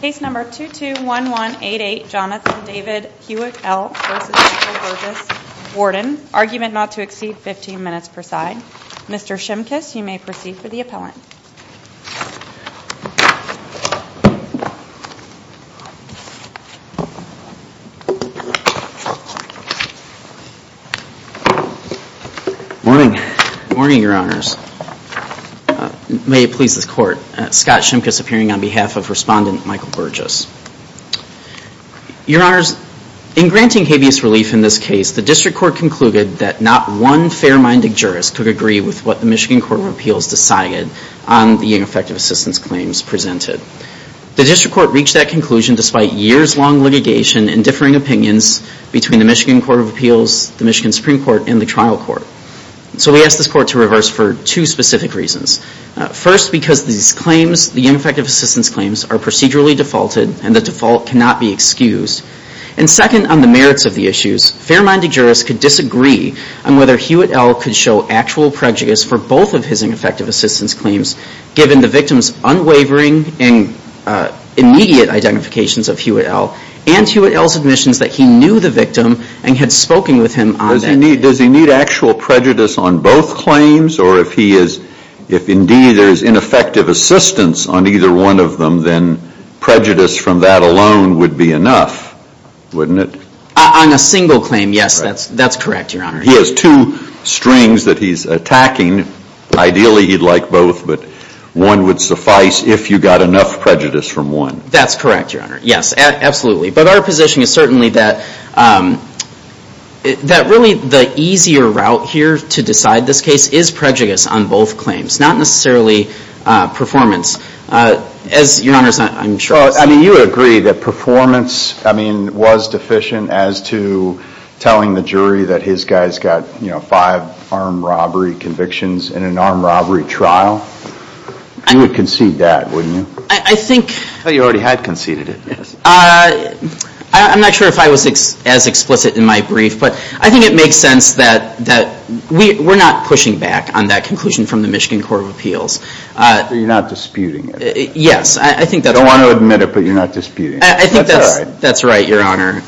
Case number 221188, Jonathan David Hewitt-El v. Michael Burgess, Warden. Argument not to exceed 15 minutes per side. Mr. Shimkus, you may proceed for the appellant. Morning. Morning, Your Honors. May it please this Court, Scott Shimkus appearing on behalf of Respondent Michael Burgess. Your Honors, in granting habeas relief in this case, the District Court concluded that not one fair-minded jurist could agree with what the Michigan Court of Appeals decided on the ineffective assistance claims presented. The District Court reached that conclusion despite years-long litigation and differing opinions between the Michigan Court of Appeals, the Michigan Supreme Court, and the Trial Court. So we ask this Court to reverse for two specific reasons. First, because these claims, the ineffective assistance claims, are procedurally defaulted and the default cannot be excused. And second, on the merits of the issues, fair-minded jurists could disagree on whether Hewitt-El could show actual prejudice for both of his ineffective assistance claims, given the victim's unwavering and immediate identifications of Hewitt-El and Hewitt-El's admissions that he knew the victim and had spoken with him on that. Does he need actual prejudice on both claims? Or if indeed there is ineffective assistance on either one of them, then prejudice from that alone would be enough, wouldn't it? On a single claim, yes, that's correct, Your Honor. He has two strings that he's attacking. Ideally, he'd like both, but one would suffice if you got enough prejudice from one. That's correct, Your Honor. Yes, absolutely. But our position is certainly that really the easier route here to decide this case is prejudice on both claims, not necessarily performance. As Your Honors, I'm sure I said. Well, I mean, you agree that performance, I mean, was deficient as to telling the jury that his guy's got five armed robbery convictions in an armed robbery trial. You would concede that, wouldn't you? I thought you already had conceded it. I'm not sure if I was as explicit in my brief, but I think it makes sense that we're not pushing back on that conclusion from the Michigan Court of Appeals. So you're not disputing it? Yes, I think that's right. You want to admit it, but you're not disputing it. I think that's right, Your Honor.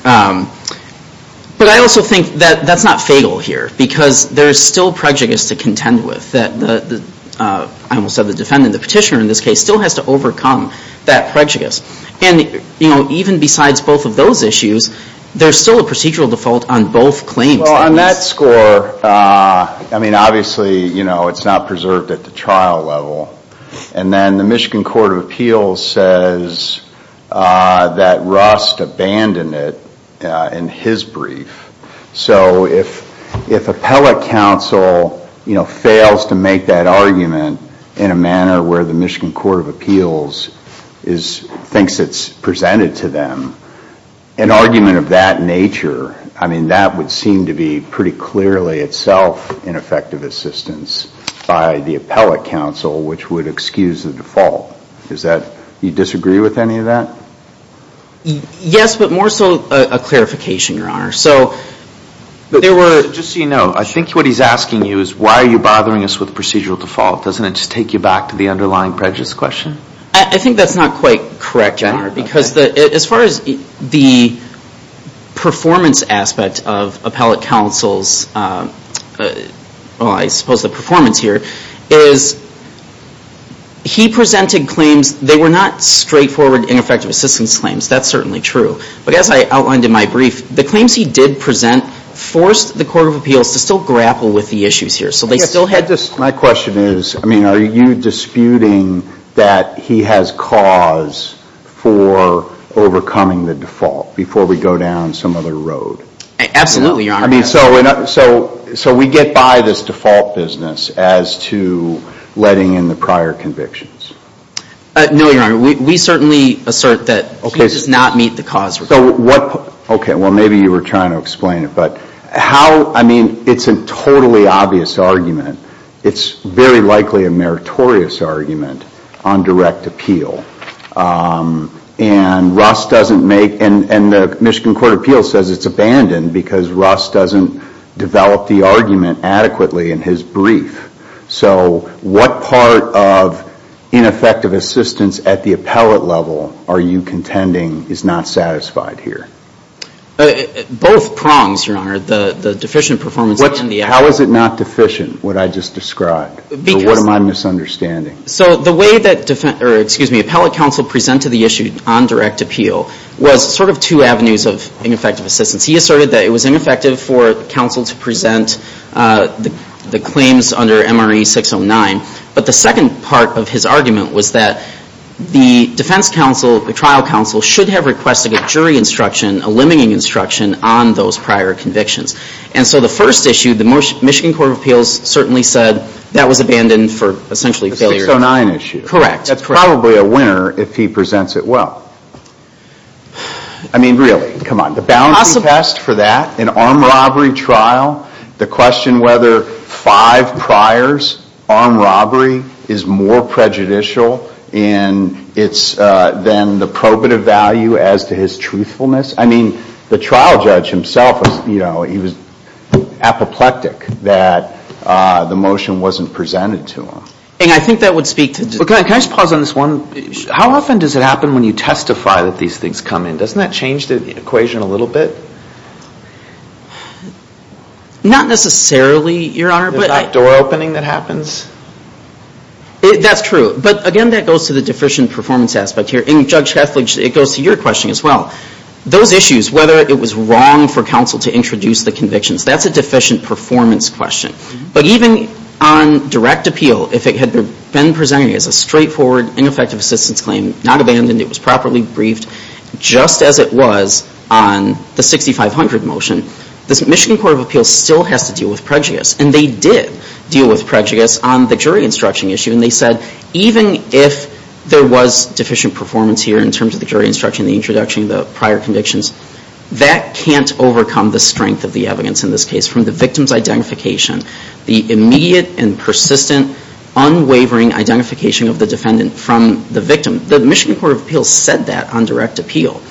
But I also think that that's not fatal here, because there's still prejudice to contend with. I almost said the defendant, the petitioner in this case, still has to overcome that prejudice. And even besides both of those issues, there's still a procedural default on both claims. Well, on that score, I mean, obviously, it's not preserved at the trial level. And then the Michigan Court of Appeals says that Rust abandoned it in his brief. So if appellate counsel fails to make that argument in a manner where the Michigan Court of Appeals thinks it's presented to them, an argument of that nature, I mean, that would seem to be pretty clearly itself ineffective assistance by the appellate counsel, which would excuse the default. Do you disagree with any of that? Yes, but more so a clarification, Your Honor. Just so you know, I think what he's asking you is, why are you bothering us with procedural default? Doesn't it just take you back to the underlying prejudice question? I think that's not quite correct, Your Honor, because as far as the performance aspect of appellate counsel's, well, I suppose the performance here, is he presented claims. They were not straightforward, ineffective assistance claims. That's certainly true. But as I outlined in my brief, the claims he did present forced the Court of Appeals to still grapple with the issues here. My question is, I mean, are you disputing that he has cause for overcoming the default before we go down some other road? Absolutely, Your Honor. So we get by this default business as to letting in the prior convictions? No, Your Honor. We certainly assert that he does not meet the cause requirement. Okay, well, maybe you were trying to explain it. But how, I mean, it's a totally obvious argument. It's very likely a meritorious argument on direct appeal. And Russ doesn't make, and the Michigan Court of Appeals says it's abandoned because Russ doesn't develop the argument adequately in his brief. So what part of ineffective assistance at the appellate level are you contending is not satisfied here? Both prongs, Your Honor, the deficient performance and the actual. How is it not deficient, what I just described? What am I misunderstanding? So the way that appellate counsel presented the issue on direct appeal was sort of two avenues of ineffective assistance. He asserted that it was ineffective for counsel to present the claims under MRE 609, but the second part of his argument was that the defense counsel, the trial counsel, should have requested a jury instruction, a limiting instruction on those prior convictions. And so the first issue, the Michigan Court of Appeals certainly said that was abandoned for essentially failure. The 609 issue. Correct. That's probably a winner if he presents it well. I mean, really, come on. The boundary test for that, an armed robbery trial, the question whether five priors, armed robbery, is more prejudicial than the probative value as to his truthfulness. I mean, the trial judge himself, you know, he was apoplectic that the motion wasn't presented to him. And I think that would speak to this. Can I just pause on this one? How often does it happen when you testify that these things come in? Doesn't that change the equation a little bit? Not necessarily, Your Honor. The back door opening that happens? That's true. But, again, that goes to the deficient performance aspect here. And, Judge Hathaway, it goes to your question as well. Those issues, whether it was wrong for counsel to introduce the convictions, that's a deficient performance question. But even on direct appeal, if it had been presented as a straightforward ineffective assistance claim, not abandoned, it was properly briefed, just as it was on the 6500 motion, the Michigan Court of Appeals still has to deal with prejudice. And they did deal with prejudice on the jury instruction issue. And they said, even if there was deficient performance here in terms of the jury instruction, the introduction of the prior convictions, that can't overcome the strength of the evidence in this case from the victim's identification, the immediate and persistent, unwavering identification of the defendant from the victim. The Michigan Court of Appeals said that on direct appeal.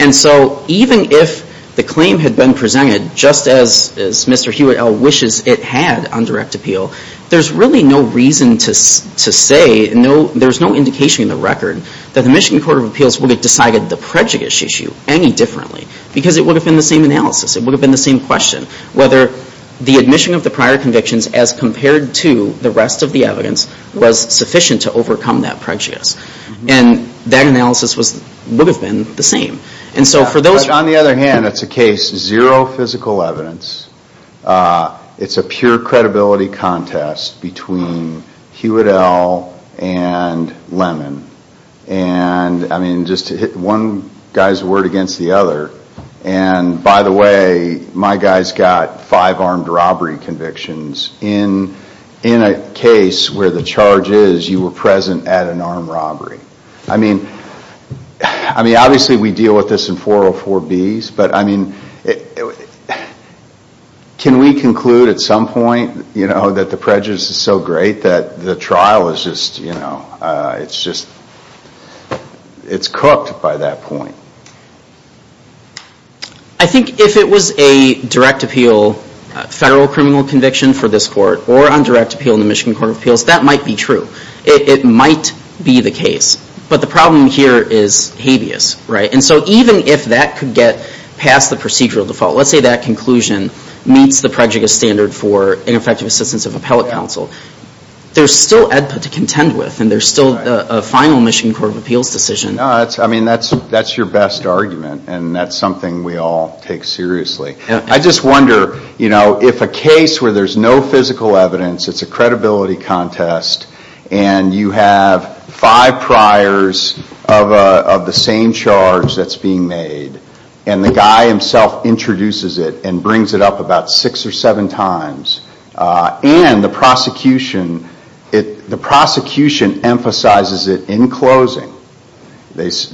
And so even if the claim had been presented just as Mr. Hewitt L. wishes it had on direct appeal, there's really no reason to say, there's no indication in the record, that the Michigan Court of Appeals would have decided the prejudice issue any differently. Because it would have been the same analysis. It would have been the same question. Whether the admission of the prior convictions as compared to the rest of the evidence was sufficient to overcome that prejudice. And that analysis would have been the same. And so for those... But on the other hand, it's a case, zero physical evidence, it's a pure credibility contest between Hewitt L. and Lemon. And I mean, just to hit one guy's word against the other, and by the way, my guy's got five armed robbery convictions. In a case where the charge is, you were present at an armed robbery. I mean, obviously we deal with this in 404B's, but I mean, can we conclude at some point that the prejudice is so great that the trial is just, you know, it's cooked by that point? I think if it was a direct appeal federal criminal conviction for this court, or on direct appeal in the Michigan Court of Appeals, that might be true. It might be the case. But the problem here is habeas, right? And so even if that could get past the procedural default, let's say that conclusion meets the prejudice standard for ineffective assistance of appellate counsel, there's still EDPA to contend with, and there's still a final Michigan Court of Appeals decision. No, I mean, that's your best argument, and that's something we all take seriously. I just wonder, you know, if a case where there's no physical evidence, it's a credibility contest, and you have five priors of the same charge that's being made, and the guy himself introduces it and brings it up about six or seven times, and the prosecution emphasizes it in closing.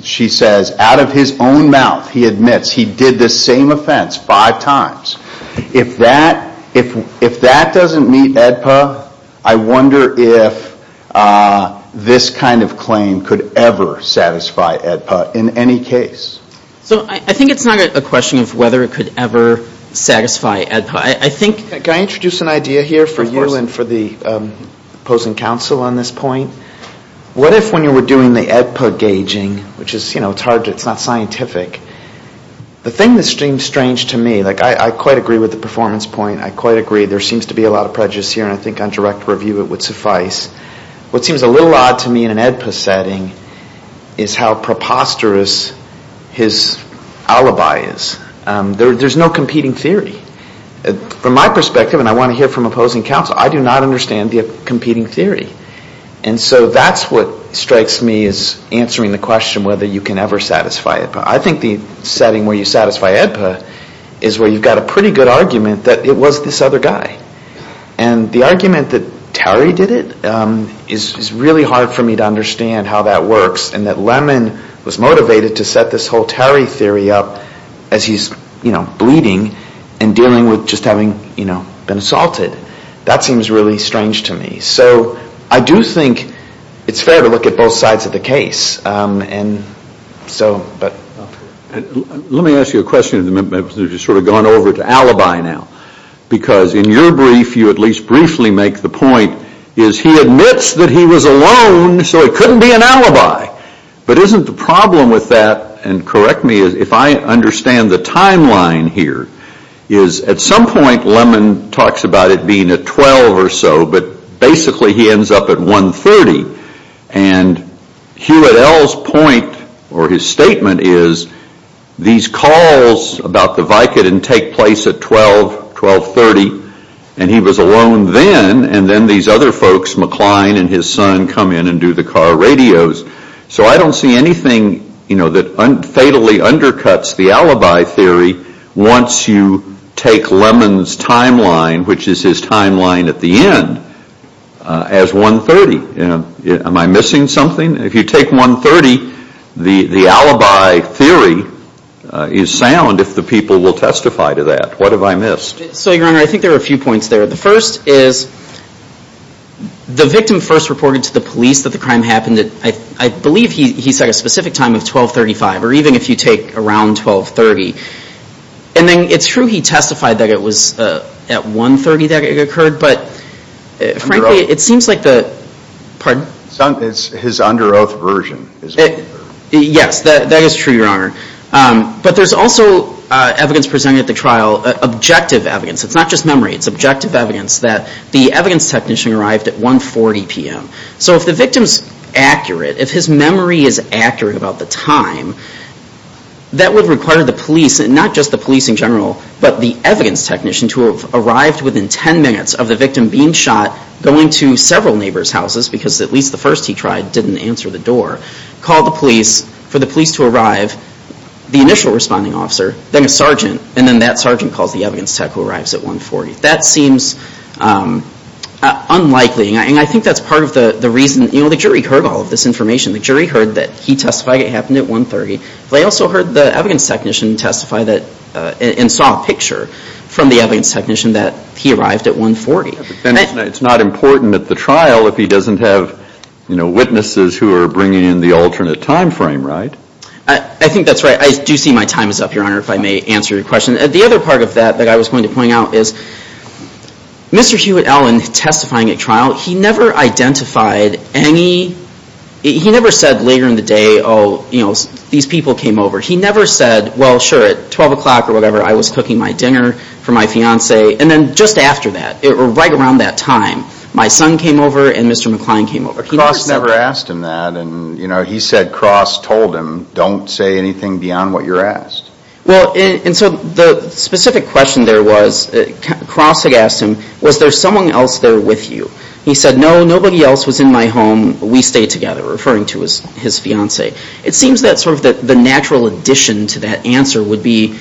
She says, out of his own mouth, he admits he did this same offense five times. If that doesn't meet EDPA, I wonder if this kind of claim could ever satisfy EDPA in any case. So I think it's not a question of whether it could ever satisfy EDPA. Can I introduce an idea here for you and for the opposing counsel on this point? What if when you were doing the EDPA gauging, which is, you know, it's not scientific, the thing that seems strange to me, like I quite agree with the performance point, I quite agree there seems to be a lot of prejudice here, and I think on direct review it would suffice. What seems a little odd to me in an EDPA setting is how preposterous his alibi is. There's no competing theory. From my perspective, and I want to hear from opposing counsel, I do not understand the competing theory. And so that's what strikes me as answering the question whether you can ever satisfy EDPA. I think the setting where you satisfy EDPA is where you've got a pretty good argument that it was this other guy. And the argument that Terry did it is really hard for me to understand how that works and that Lemon was motivated to set this whole Terry theory up as he's, you know, bleeding and dealing with just having, you know, been assaulted. That seems really strange to me. So I do think it's fair to look at both sides of the case. Let me ask you a question as you've sort of gone over to alibi now. Because in your brief, you at least briefly make the point is he admits that he was alone, so it couldn't be an alibi. But isn't the problem with that, and correct me if I understand the timeline here, is at some point Lemon talks about it being at 12 or so, but basically he ends up at 1.30. And Hugh et al.'s point or his statement is these calls about the Vicodin take place at 12, 12.30, and he was alone then, and then these other folks, McLean and his son, come in and do the car radios. So I don't see anything, you know, that fatally undercuts the alibi theory once you take Lemon's timeline, which is his timeline at the end, as 1.30. Am I missing something? If you take 1.30, the alibi theory is sound if the people will testify to that. What have I missed? So, Your Honor, I think there are a few points there. The first is the victim first reported to the police that the crime happened at, I believe, he said a specific time of 12.35, or even if you take around 12.30. And then it's true he testified that it was at 1.30 that it occurred, but frankly, it seems like the... Pardon? It's his under oath version. Yes, that is true, Your Honor. But there's also evidence presented at the trial, objective evidence, it's not just memory, it's objective evidence that the evidence technician arrived at 1.40 p.m. So if the victim's accurate, if his memory is accurate about the time, that would require the police, and not just the police in general, but the evidence technician to have arrived within 10 minutes of the victim being shot, going to several neighbors' houses because at least the first he tried didn't answer the door, called the police for the police to arrive, the initial responding officer, then a sergeant, and then that sergeant calls the evidence tech who arrives at 1.40. That seems unlikely, and I think that's part of the reason, you know, the jury heard all of this information. The jury heard that he testified it happened at 1.30, but they also heard the evidence technician testify that, and saw a picture from the evidence technician that he arrived at 1.40. But then it's not important at the trial if he doesn't have, you know, witnesses who are bringing in the alternate time frame, right? I think that's right. I do see my time is up, Your Honor, if I may answer your question. The other part of that that I was going to point out is Mr. Hewitt-Allen testifying at trial, he never identified any, he never said later in the day, oh, you know, these people came over. He never said, well, sure, at 12 o'clock or whatever, I was cooking my dinner for my fiance, and then just after that, right around that time, my son came over and Mr. McCline came over. Cross never asked him that, and, you know, he said Cross told him, don't say anything beyond what you're asked. Well, and so the specific question there was, Cross had asked him, was there someone else there with you? He said, no, nobody else was in my home. We stayed together, referring to his fiance. It seems that sort of the natural addition to that answer would be,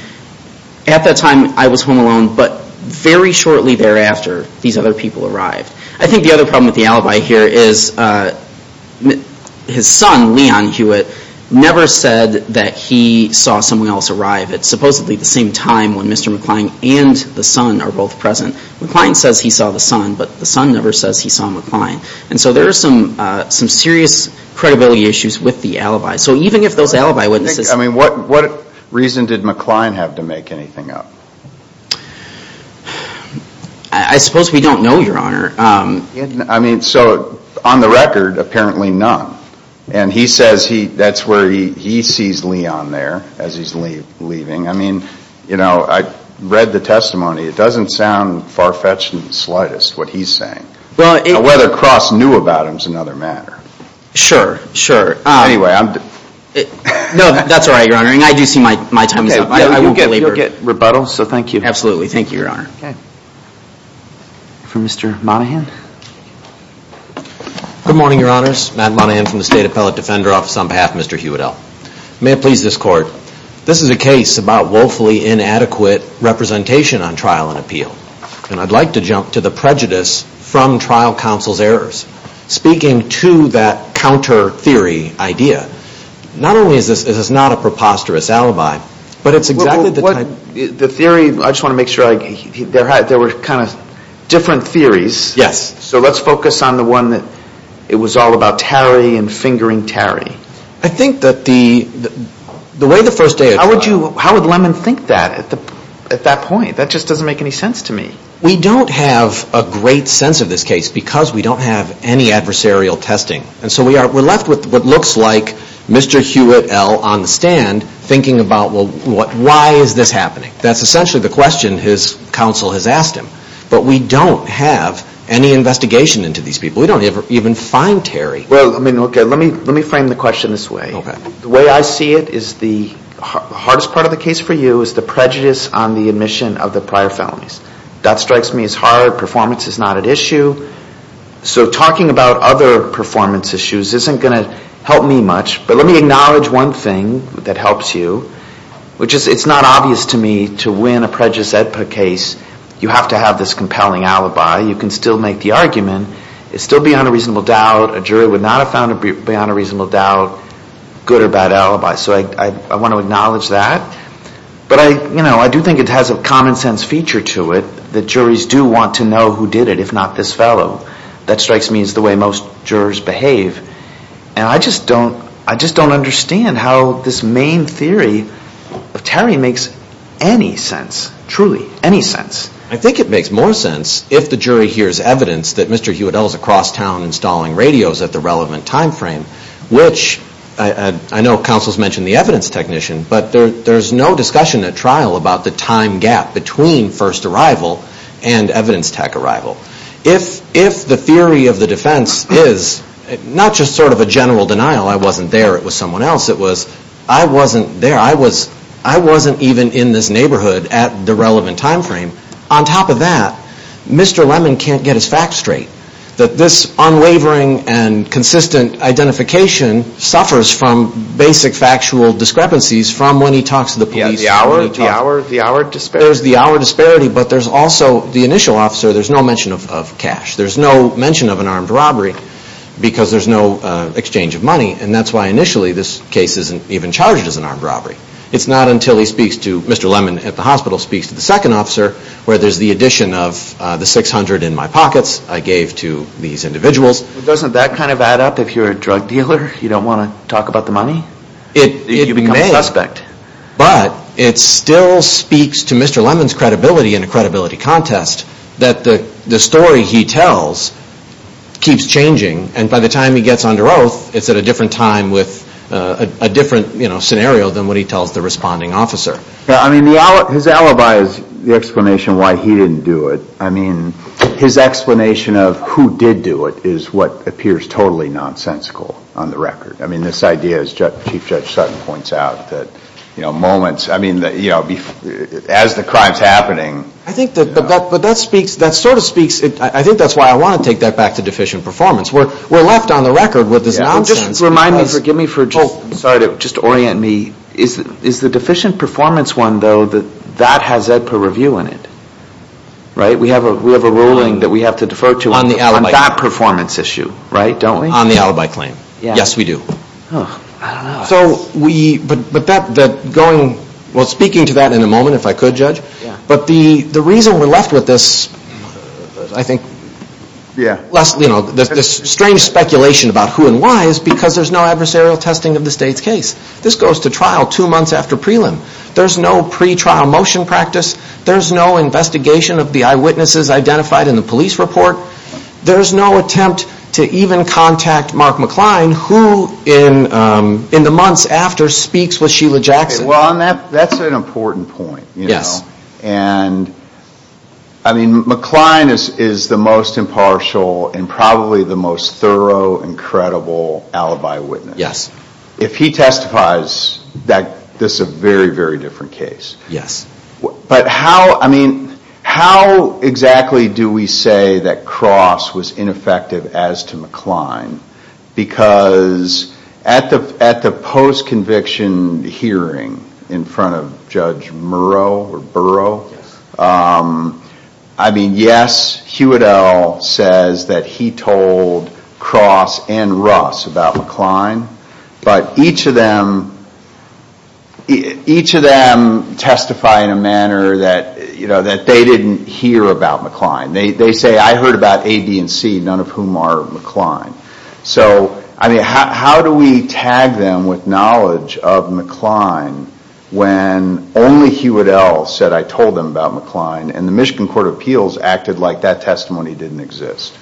at that time, I was home alone, but very shortly thereafter, these other people arrived. I think the other problem with the alibi here is his son, Leon Hewitt, never said that he saw someone else arrive at supposedly the same time when Mr. McCline and the son are both present. McCline says he saw the son, but the son never says he saw McCline. And so there are some serious credibility issues with the alibi. So even if those alibi witnesses... I mean, what reason did McCline have to make anything up? I suppose we don't know, Your Honor. I mean, so on the record, apparently none. And he says that's where he sees Leon there, as he's leaving. I mean, you know, I read the testimony. It doesn't sound far-fetched in the slightest, what he's saying. Whether Cross knew about him is another matter. Sure, sure. Anyway, I'm... No, that's all right, Your Honor. I do see my time is up. You'll get rebuttal, so thank you. Absolutely. Thank you, Your Honor. For Mr. Monahan. Good morning, Your Honors. Matt Monahan from the State Appellate Defender Office on behalf of Mr. Huedel. May it please this Court, this is a case about woefully inadequate representation on trial and appeal. And I'd like to jump to the prejudice from trial counsel's errors. Speaking to that counter-theory idea, not only is this not a preposterous alibi, but it's exactly the type... The theory, I just want to make sure I... There were kind of different theories. Yes. So let's focus on the one that it was all about Tarry and fingering Tarry. I think that the way the first day... How would you... How would Lemon think that at that point? That just doesn't make any sense to me. We don't have a great sense of this case because we don't have any adversarial testing. And so we're left with what looks like Mr. Huedel on the stand thinking about, well, why is this happening? That's essentially the question his counsel has asked him. But we don't have any investigation into these people. We don't even find Tarry. Well, let me frame the question this way. Okay. The way I see it is the hardest part of the case for you is the prejudice on the admission of the prior felonies. That strikes me as hard. Performance is not at issue. So talking about other performance issues isn't going to help me much. But let me acknowledge one thing that helps you, which is it's not obvious to me to win a prejudice EDPA case, you have to have this compelling alibi. You can still make the argument. It's still beyond a reasonable doubt. A jury would not have found it beyond a reasonable doubt, good or bad alibi. So I want to acknowledge that. But I do think it has a common-sense feature to it that juries do want to know who did it, if not this fellow. That strikes me as the way most jurors behave. And I just don't understand how this main theory of Tarry makes any sense, truly, any sense. I think it makes more sense if the jury hears evidence that Mr. Huodel is across town installing radios at the relevant time frame, which I know counsel's mentioned the evidence technician, but there's no discussion at trial about the time gap between first arrival and evidence tech arrival. If the theory of the defense is not just sort of a general denial, I wasn't there, it was someone else, it was I wasn't there, I wasn't even in this neighborhood at the relevant time frame. On top of that, Mr. Lemon can't get his facts straight. That this unwavering and consistent identification suffers from basic factual discrepancies from when he talks to the police. Yeah, the hour disparity. There's the hour disparity, but there's also the initial officer, there's no mention of cash. There's no mention of an armed robbery because there's no exchange of money, and that's why initially this case isn't even charged as an armed robbery. It's not until he speaks to Mr. Lemon at the hospital, speaks to the second officer, where there's the addition of the 600 in my pockets I gave to these individuals. Doesn't that kind of add up if you're a drug dealer? You don't want to talk about the money? You become a suspect. But it still speaks to Mr. Lemon's credibility in a credibility contest, that the story he tells keeps changing, and by the time he gets under oath, it's at a different time with a different scenario than what he tells the responding officer. His alibi is the explanation why he didn't do it. His explanation of who did do it is what appears totally nonsensical on the record. This idea, as Chief Judge Sutton points out, as the crime's happening... I think that sort of speaks... I think that's why I want to take that back to deficient performance. We're left on the record with this nonsense. Just remind me, forgive me for... I'm sorry, just orient me. Is the deficient performance one, though, that has that per review in it? We have a ruling that we have to defer to on that performance issue. On the alibi claim. Yes, we do. So we... Well, speaking to that in a moment, if I could, Judge, but the reason we're left with this, I think, this strange speculation about who and why is because there's no adversarial testing of the state's case. This goes to trial two months after prelim. There's no pretrial motion practice. There's no investigation of the eyewitnesses identified in the police report. There's no attempt to even contact Mark McCline who, in the months after, speaks with Sheila Jackson. Well, that's an important point. Yes. And, I mean, McCline is the most impartial and probably the most thorough and credible alibi witness. Yes. If he testifies, this is a very, very different case. Yes. But how, I mean, how exactly do we say that Cross was ineffective as to McCline because at the post-conviction hearing in front of Judge Murrow or Burrow... Yes. I mean, yes, Hewitt L. says that he told Cross and Russ about McCline, but each of them... each of them testify in a manner that, you know, that they didn't hear about McCline. They say, I heard about A, B, and C, none of whom are McCline. So, I mean, how do we tag them with knowledge of McCline when only Hewitt L. said, I told them about McCline and the Michigan Court of Appeals acted like that testimony didn't exist?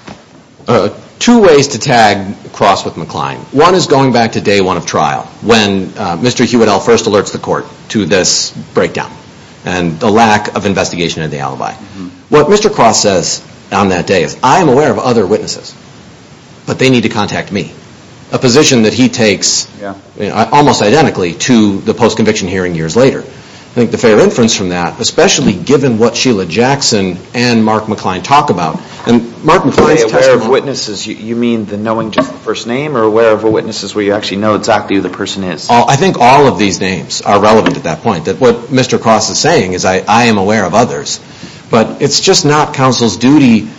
Two ways to tag Cross with McCline. One is going back to day one of trial when Mr. Hewitt L. first alerts the court to this breakdown and the lack of investigation of the alibi. What Mr. Cross says on that day is, I am aware of other witnesses, but they need to contact me. A position that he takes almost identically to the post-conviction hearing years later. I think the fair inference from that, especially given what Sheila Jackson and Mark McCline talk about... Mark McCline's testimony... By aware of witnesses, you mean the knowing just the first name or aware of witnesses where you actually know exactly who the person is? I think all of these names are relevant at that point. What Mr. Cross is saying is, I am aware of others, but it's just not counsel's duty...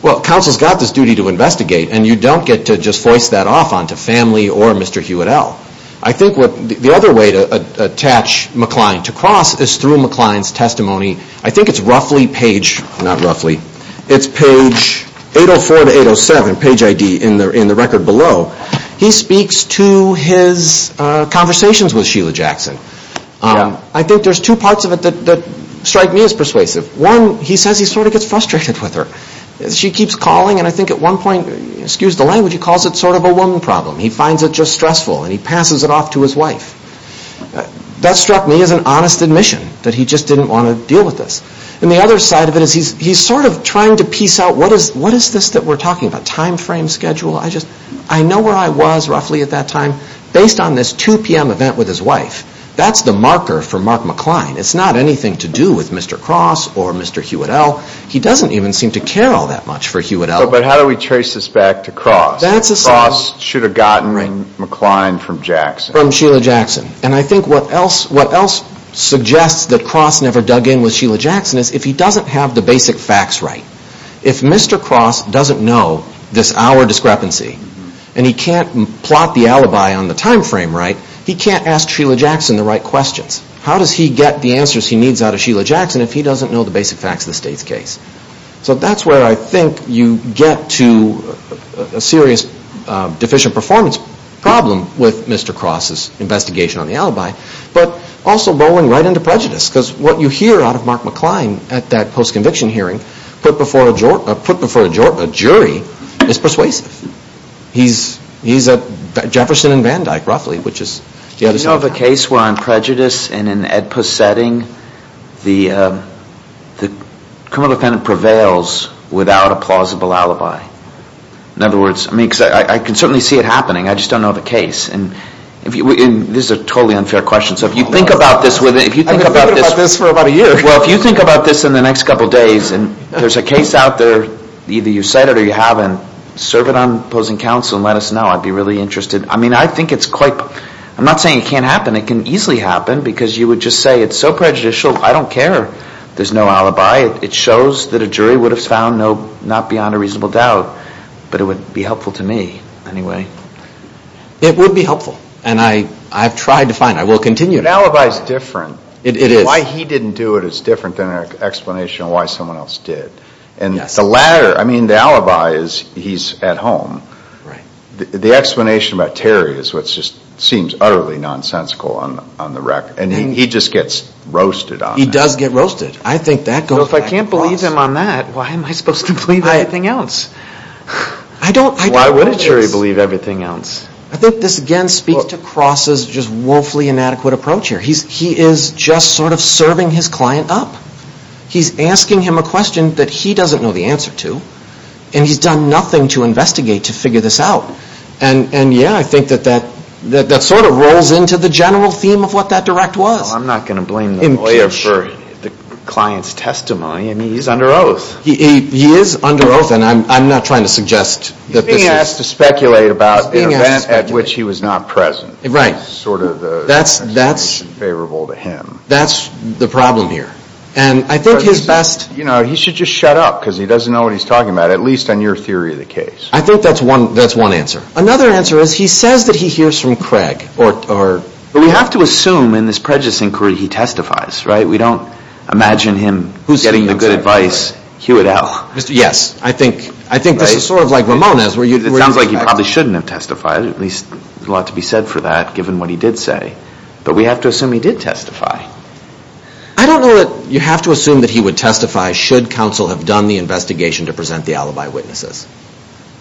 Well, counsel's got this duty to investigate and you don't get to just voice that off onto family or Mr. Hewitt L. I think the other way to attach McCline to Cross is through McCline's testimony. I think it's roughly page... Not roughly. It's page 804 to 807, page ID in the record below. He speaks to his conversations with Sheila Jackson. I think there's two parts of it that strike me as persuasive. One, he says he sort of gets frustrated with her. She keeps calling and I think at one point, excuse the language, he calls it sort of a woman problem. He finds it just stressful and he passes it off to his wife. That struck me as an honest admission that he just didn't want to deal with this. And the other side of it is he's sort of trying to piece out what is this that we're talking about? Time frame, schedule? I know where I was roughly at that time based on this 2 p.m. event with his wife. That's the marker for Mark McCline. It's not anything to do with Mr. Cross or Mr. Hewitt L. He doesn't even seem to care all that much for Hewitt L. But how do we trace this back to Cross? Cross should have gotten McCline from Jackson. From Sheila Jackson. And I think what else suggests that Cross never dug in with Sheila Jackson is if he doesn't have the basic facts right. If Mr. Cross doesn't know this hour discrepancy and he can't plot the alibi on the time frame right, he can't ask Sheila Jackson the right questions. How does he get the answers he needs out of Sheila Jackson if he doesn't know the basic facts of the state's case? So that's where I think you get to a serious deficient performance problem with Mr. Cross' investigation on the alibi, but also rolling right into prejudice because what you hear out of Mark McCline at that post-conviction hearing put before a jury is persuasive. He's a Jefferson and Van Dyke roughly, which is the other side of that. Do you know of a case where on prejudice in an OEDPA setting, the criminal defendant prevails without a plausible alibi? In other words, I mean, because I can certainly see it happening. I just don't know of a case. And this is a totally unfair question. So if you think about this... I've been thinking about this for about a year. Well, if you think about this in the next couple of days and there's a case out there, either you've said it or you haven't, serve it on opposing counsel and let us know. I'd be really interested. I mean, I think it's quite... I'm not saying it can't happen. It can easily happen because you would just say, it's so prejudicial, I don't care. There's no alibi. It shows that a jury would have found not beyond a reasonable doubt, but it would be helpful to me anyway. It would be helpful. And I've tried to find. I will continue. An alibi's different. It is. And if you didn't do it, it's different than an explanation of why someone else did. And the latter, I mean, the alibi is he's at home. The explanation about Terry is what just seems utterly nonsensical on the record. And he just gets roasted on it. He does get roasted. I think that goes back to Cross. Well, if I can't believe him on that, why am I supposed to believe everything else? I don't know this. Why would a jury believe everything else? I think this again speaks to Cross's just woefully inadequate approach here. He is just sort of serving his client up. He's asking him a question that he doesn't know the answer to, and he's done nothing to investigate to figure this out. And, yeah, I think that that sort of rolls into the general theme of what that direct was. Well, I'm not going to blame the lawyer for the client's testimony. I mean, he's under oath. He is under oath, and I'm not trying to suggest that this is... He's being asked to speculate about an event at which he was not present. Right. That's the problem here. And I think his best... You know, he should just shut up because he doesn't know what he's talking about, at least on your theory of the case. I think that's one answer. Another answer is he says that he hears from Craig or... But we have to assume in this prejudicing query he testifies, right? We don't imagine him getting the good advice, hew it out. Yes. I think this is sort of like Ramones... It sounds like he probably shouldn't have testified, at least there's a lot to be said for that given what he did say. But we have to assume he did testify. I don't know that... You have to assume that he would testify should counsel have done the investigation to present the alibi witnesses.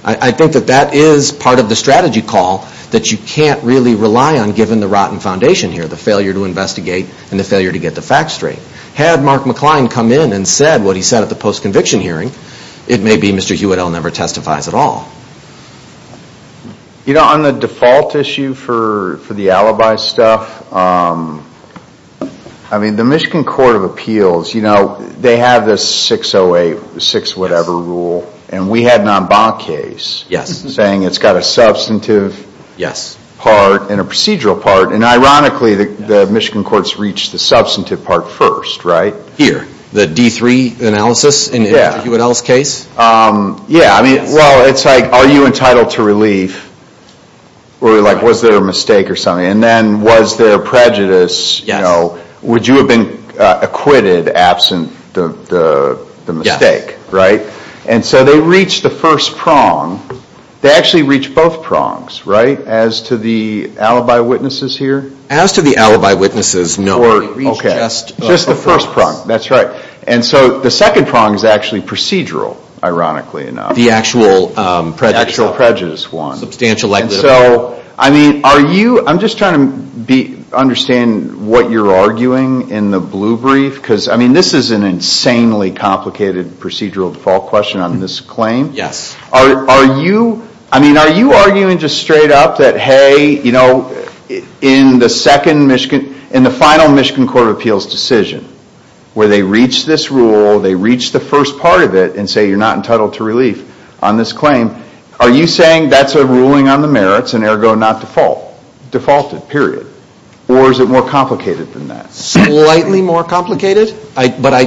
I think that that is part of the strategy call that you can't really rely on given the rotten foundation here, the failure to investigate and the failure to get the facts straight. Had Mark McCline come in and said what he said at the post-conviction hearing, it may be Mr. Hewitt never testifies at all. You know, on the default issue for the alibi stuff, I mean, the Michigan Court of Appeals, you know, they have this 608, 6-whatever rule, and we had an en banc case saying it's got a substantive part and a procedural part, and ironically the Michigan courts reached the substantive part first, right? Here, the D3 analysis in the Hewitt-Ells case? Yeah, I mean, well, it's like, are you entitled to relief? Or, like, was there a mistake or something? And then, was there prejudice? You know, would you have been acquitted absent the mistake, right? And so they reached the first prong. They actually reached both prongs, right, as to the alibi witnesses here? As to the alibi witnesses, no. Just the first prong, that's right. And so the second prong is actually procedural, ironically enough. The actual prejudice one. Substantial equity. And so, I mean, are you, I'm just trying to understand what you're arguing in the blue brief, because, I mean, this is an insanely complicated procedural default question on this claim. Yes. Are you, I mean, are you arguing just straight up that, hey, you know, in the second Michigan, in the final Michigan Court of Appeals decision, where they reach this rule, they reach the first part of it, and say you're not entitled to relief on this claim, are you saying that's a ruling on the merits and, ergo, not defaulted, period? Or is it more complicated than that? Slightly more complicated. But I,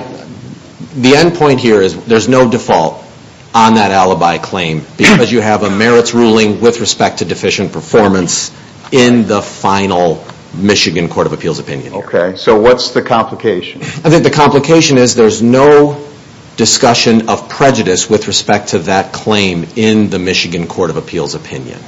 the end point here is there's no default on that alibi claim because you have a merits ruling with respect to deficient performance in the final Michigan Court of Appeals opinion. Okay, so what's the complication? I think the complication is there's no discussion of prejudice with respect to that claim in the Michigan Court of Appeals opinion.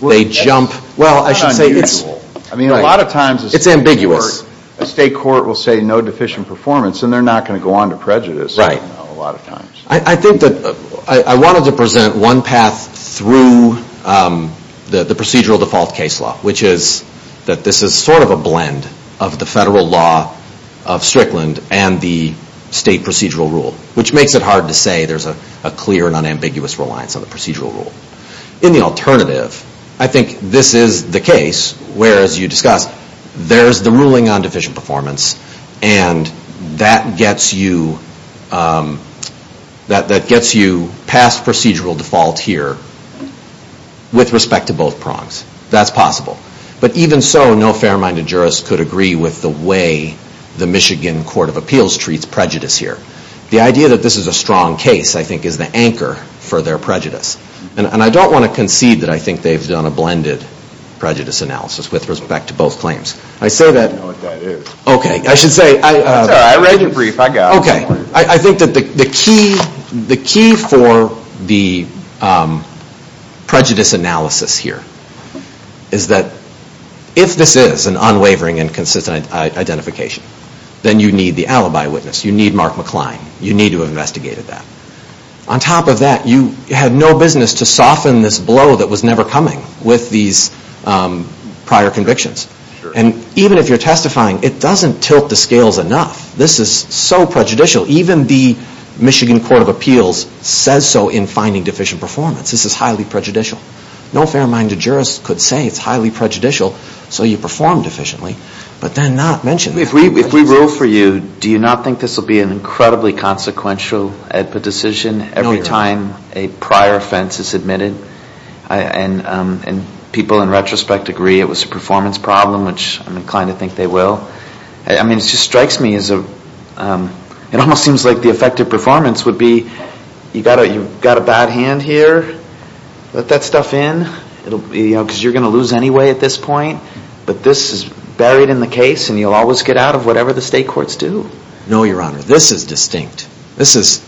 They jump, well, I should say it's... That's unusual. I mean, a lot of times... It's ambiguous. A state court will say no deficient performance and they're not going to go on to prejudice. Right. A lot of times. I think that, I wanted to present one path through the procedural default case law, which is that this is sort of a blend of the federal law of Strickland and the state procedural rule, which makes it hard to say there's a clear and unambiguous reliance on the procedural rule. In the alternative, I think this is the case where, as you discussed, there's the ruling on deficient performance and that gets you past procedural default here with respect to both prongs. That's possible. But even so, no fair-minded jurist could agree with the way the Michigan Court of Appeals treats prejudice here. The idea that this is a strong case, I think, is the anchor for their prejudice. And I don't want to concede that I think they've done a blended prejudice analysis with respect to both claims. I say that... I don't know what that is. Okay, I should say... Sorry, I read your brief. I got it. Okay. I think that the key for the prejudice analysis here is that if this is an unwavering and consistent identification, then you need the alibi witness. You need Mark McLean. You need to have investigated that. On top of that, you have no business to soften this blow that was never coming with these prior convictions. And even if you're testifying, it doesn't tilt the scales enough. This is so prejudicial. Even the Michigan Court of Appeals says so in finding deficient performance. This is highly prejudicial. No fair-minded jurist could say it's highly prejudicial so you performed efficiently, but then not mention that. If we rule for you, do you not think this will be an incredibly consequential AEDPA decision every time a prior offense is admitted? And people in retrospect agree it was a performance problem, which I'm inclined to think they will. I mean, it just strikes me as a... It almost seems like the effective performance would be you've got a bad hand here. Let that stuff in. Because you're going to lose anyway at this point. But this is buried in the case and you'll always get out of whatever the state courts do. No, Your Honor. This is distinct. This is...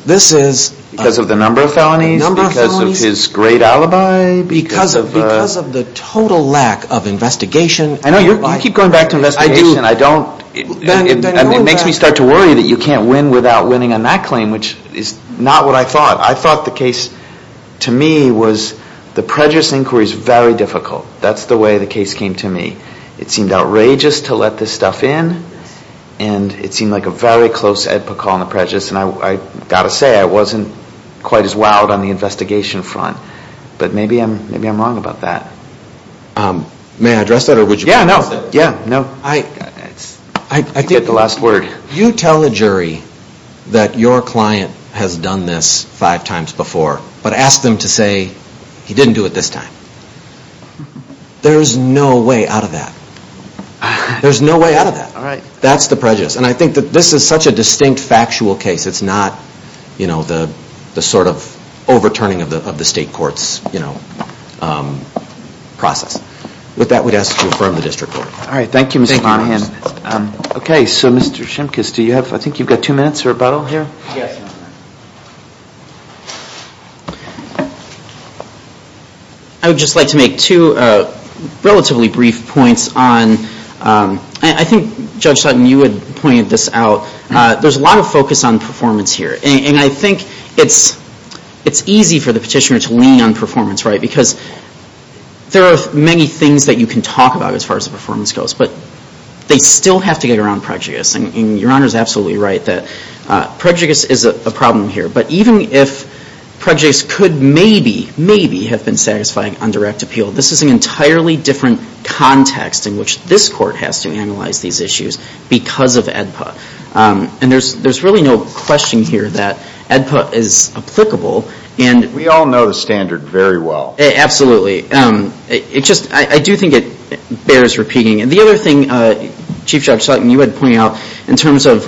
Because of the number of felonies? Because of his great alibi? Because of the total lack of investigation. I know. You keep going back to investigation. I do. And it makes me start to worry that you can't win without winning on that claim, which is not what I thought. I thought the case, to me, was the prejudice inquiry is very difficult. That's the way the case came to me. It seemed outrageous to let this stuff in and it seemed like a very close AEDPA call on the prejudice. And I've got to say, I wasn't quite as wowed on the investigation front. But maybe I'm wrong about that. May I address that? Yeah, no. Yeah, no. I think... You get the last word. You tell a jury that your client has done this five times before, but ask them to say, he didn't do it this time. There's no way out of that. There's no way out of that. All right. That's the prejudice. And I think that this is such a distinct, factual case. It's not, you know, the sort of overturning of the state court's, you know, process. With that, we'd ask you to affirm the district court. All right. Thank you, Mr. Monahan. Okay, so Mr. Shimkus, do you have... Yes, Your Honor. I would just like to make two relatively brief points on... I think, Judge Sutton, you had pointed this out. There's a lot of focus on performance here. And I think it's easy for the petitioner to lean on performance, right? Because there are many things that you can talk about as far as the performance goes. But they still have to get around prejudice. And Your Honor is absolutely right that prejudice is a problem here. But even if prejudice could maybe, maybe have been satisfying on direct appeal, this is an entirely different context in which this court has to analyze these issues because of AEDPA. And there's really no question here that AEDPA is applicable. We all know the standard very well. Absolutely. I do think it bears repeating. And the other thing, Chief Judge Sutton, you had pointed out in terms of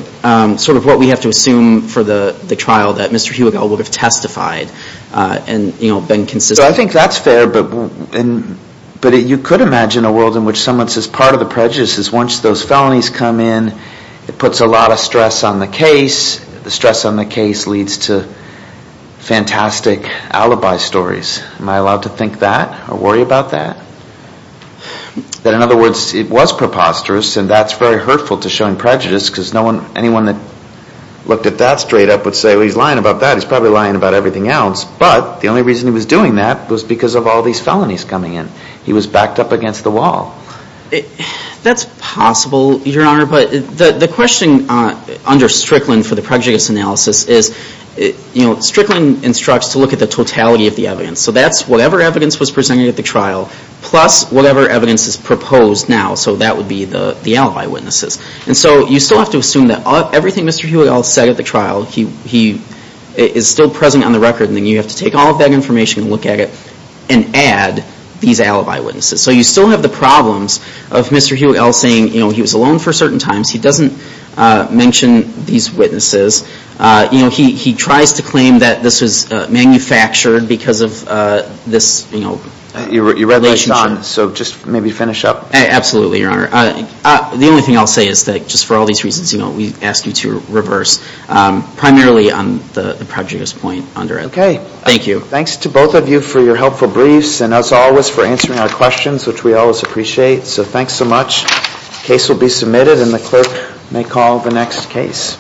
sort of what we have to assume for the trial that Mr. Hubigel would have testified and been consistent. I think that's fair. But you could imagine a world in which someone says part of the prejudice is once those felonies come in, it puts a lot of stress on the case. The stress on the case leads to fantastic alibi stories. Am I allowed to think that or worry about that? But in other words, it was preposterous, and that's very hurtful to showing prejudice because anyone that looked at that straight up would say, well, he's lying about that. He's probably lying about everything else. But the only reason he was doing that was because of all these felonies coming in. He was backed up against the wall. That's possible, Your Honor. But the question under Strickland for the prejudice analysis is, you know, Strickland instructs to look at the totality of the evidence. So that's whatever evidence was presented at the trial plus whatever evidence is proposed now. So that would be the alibi witnesses. And so you still have to assume that everything Mr. Hewitt-Ell said at the trial, he is still present on the record, and then you have to take all of that information and look at it and add these alibi witnesses. So you still have the problems of Mr. Hewitt-Ell saying, you know, he was alone for certain times. He doesn't mention these witnesses. You know, he tries to claim that this was manufactured because of this, you know, relationship. So just maybe finish up. Absolutely, Your Honor. The only thing I'll say is that just for all these reasons, you know, we ask you to reverse primarily on the prejudice point under it. Okay. Thank you. Thanks to both of you for your helpful briefs and as always for answering our questions, which we always appreciate. So thanks so much. The case will be submitted and the clerk may call the next case.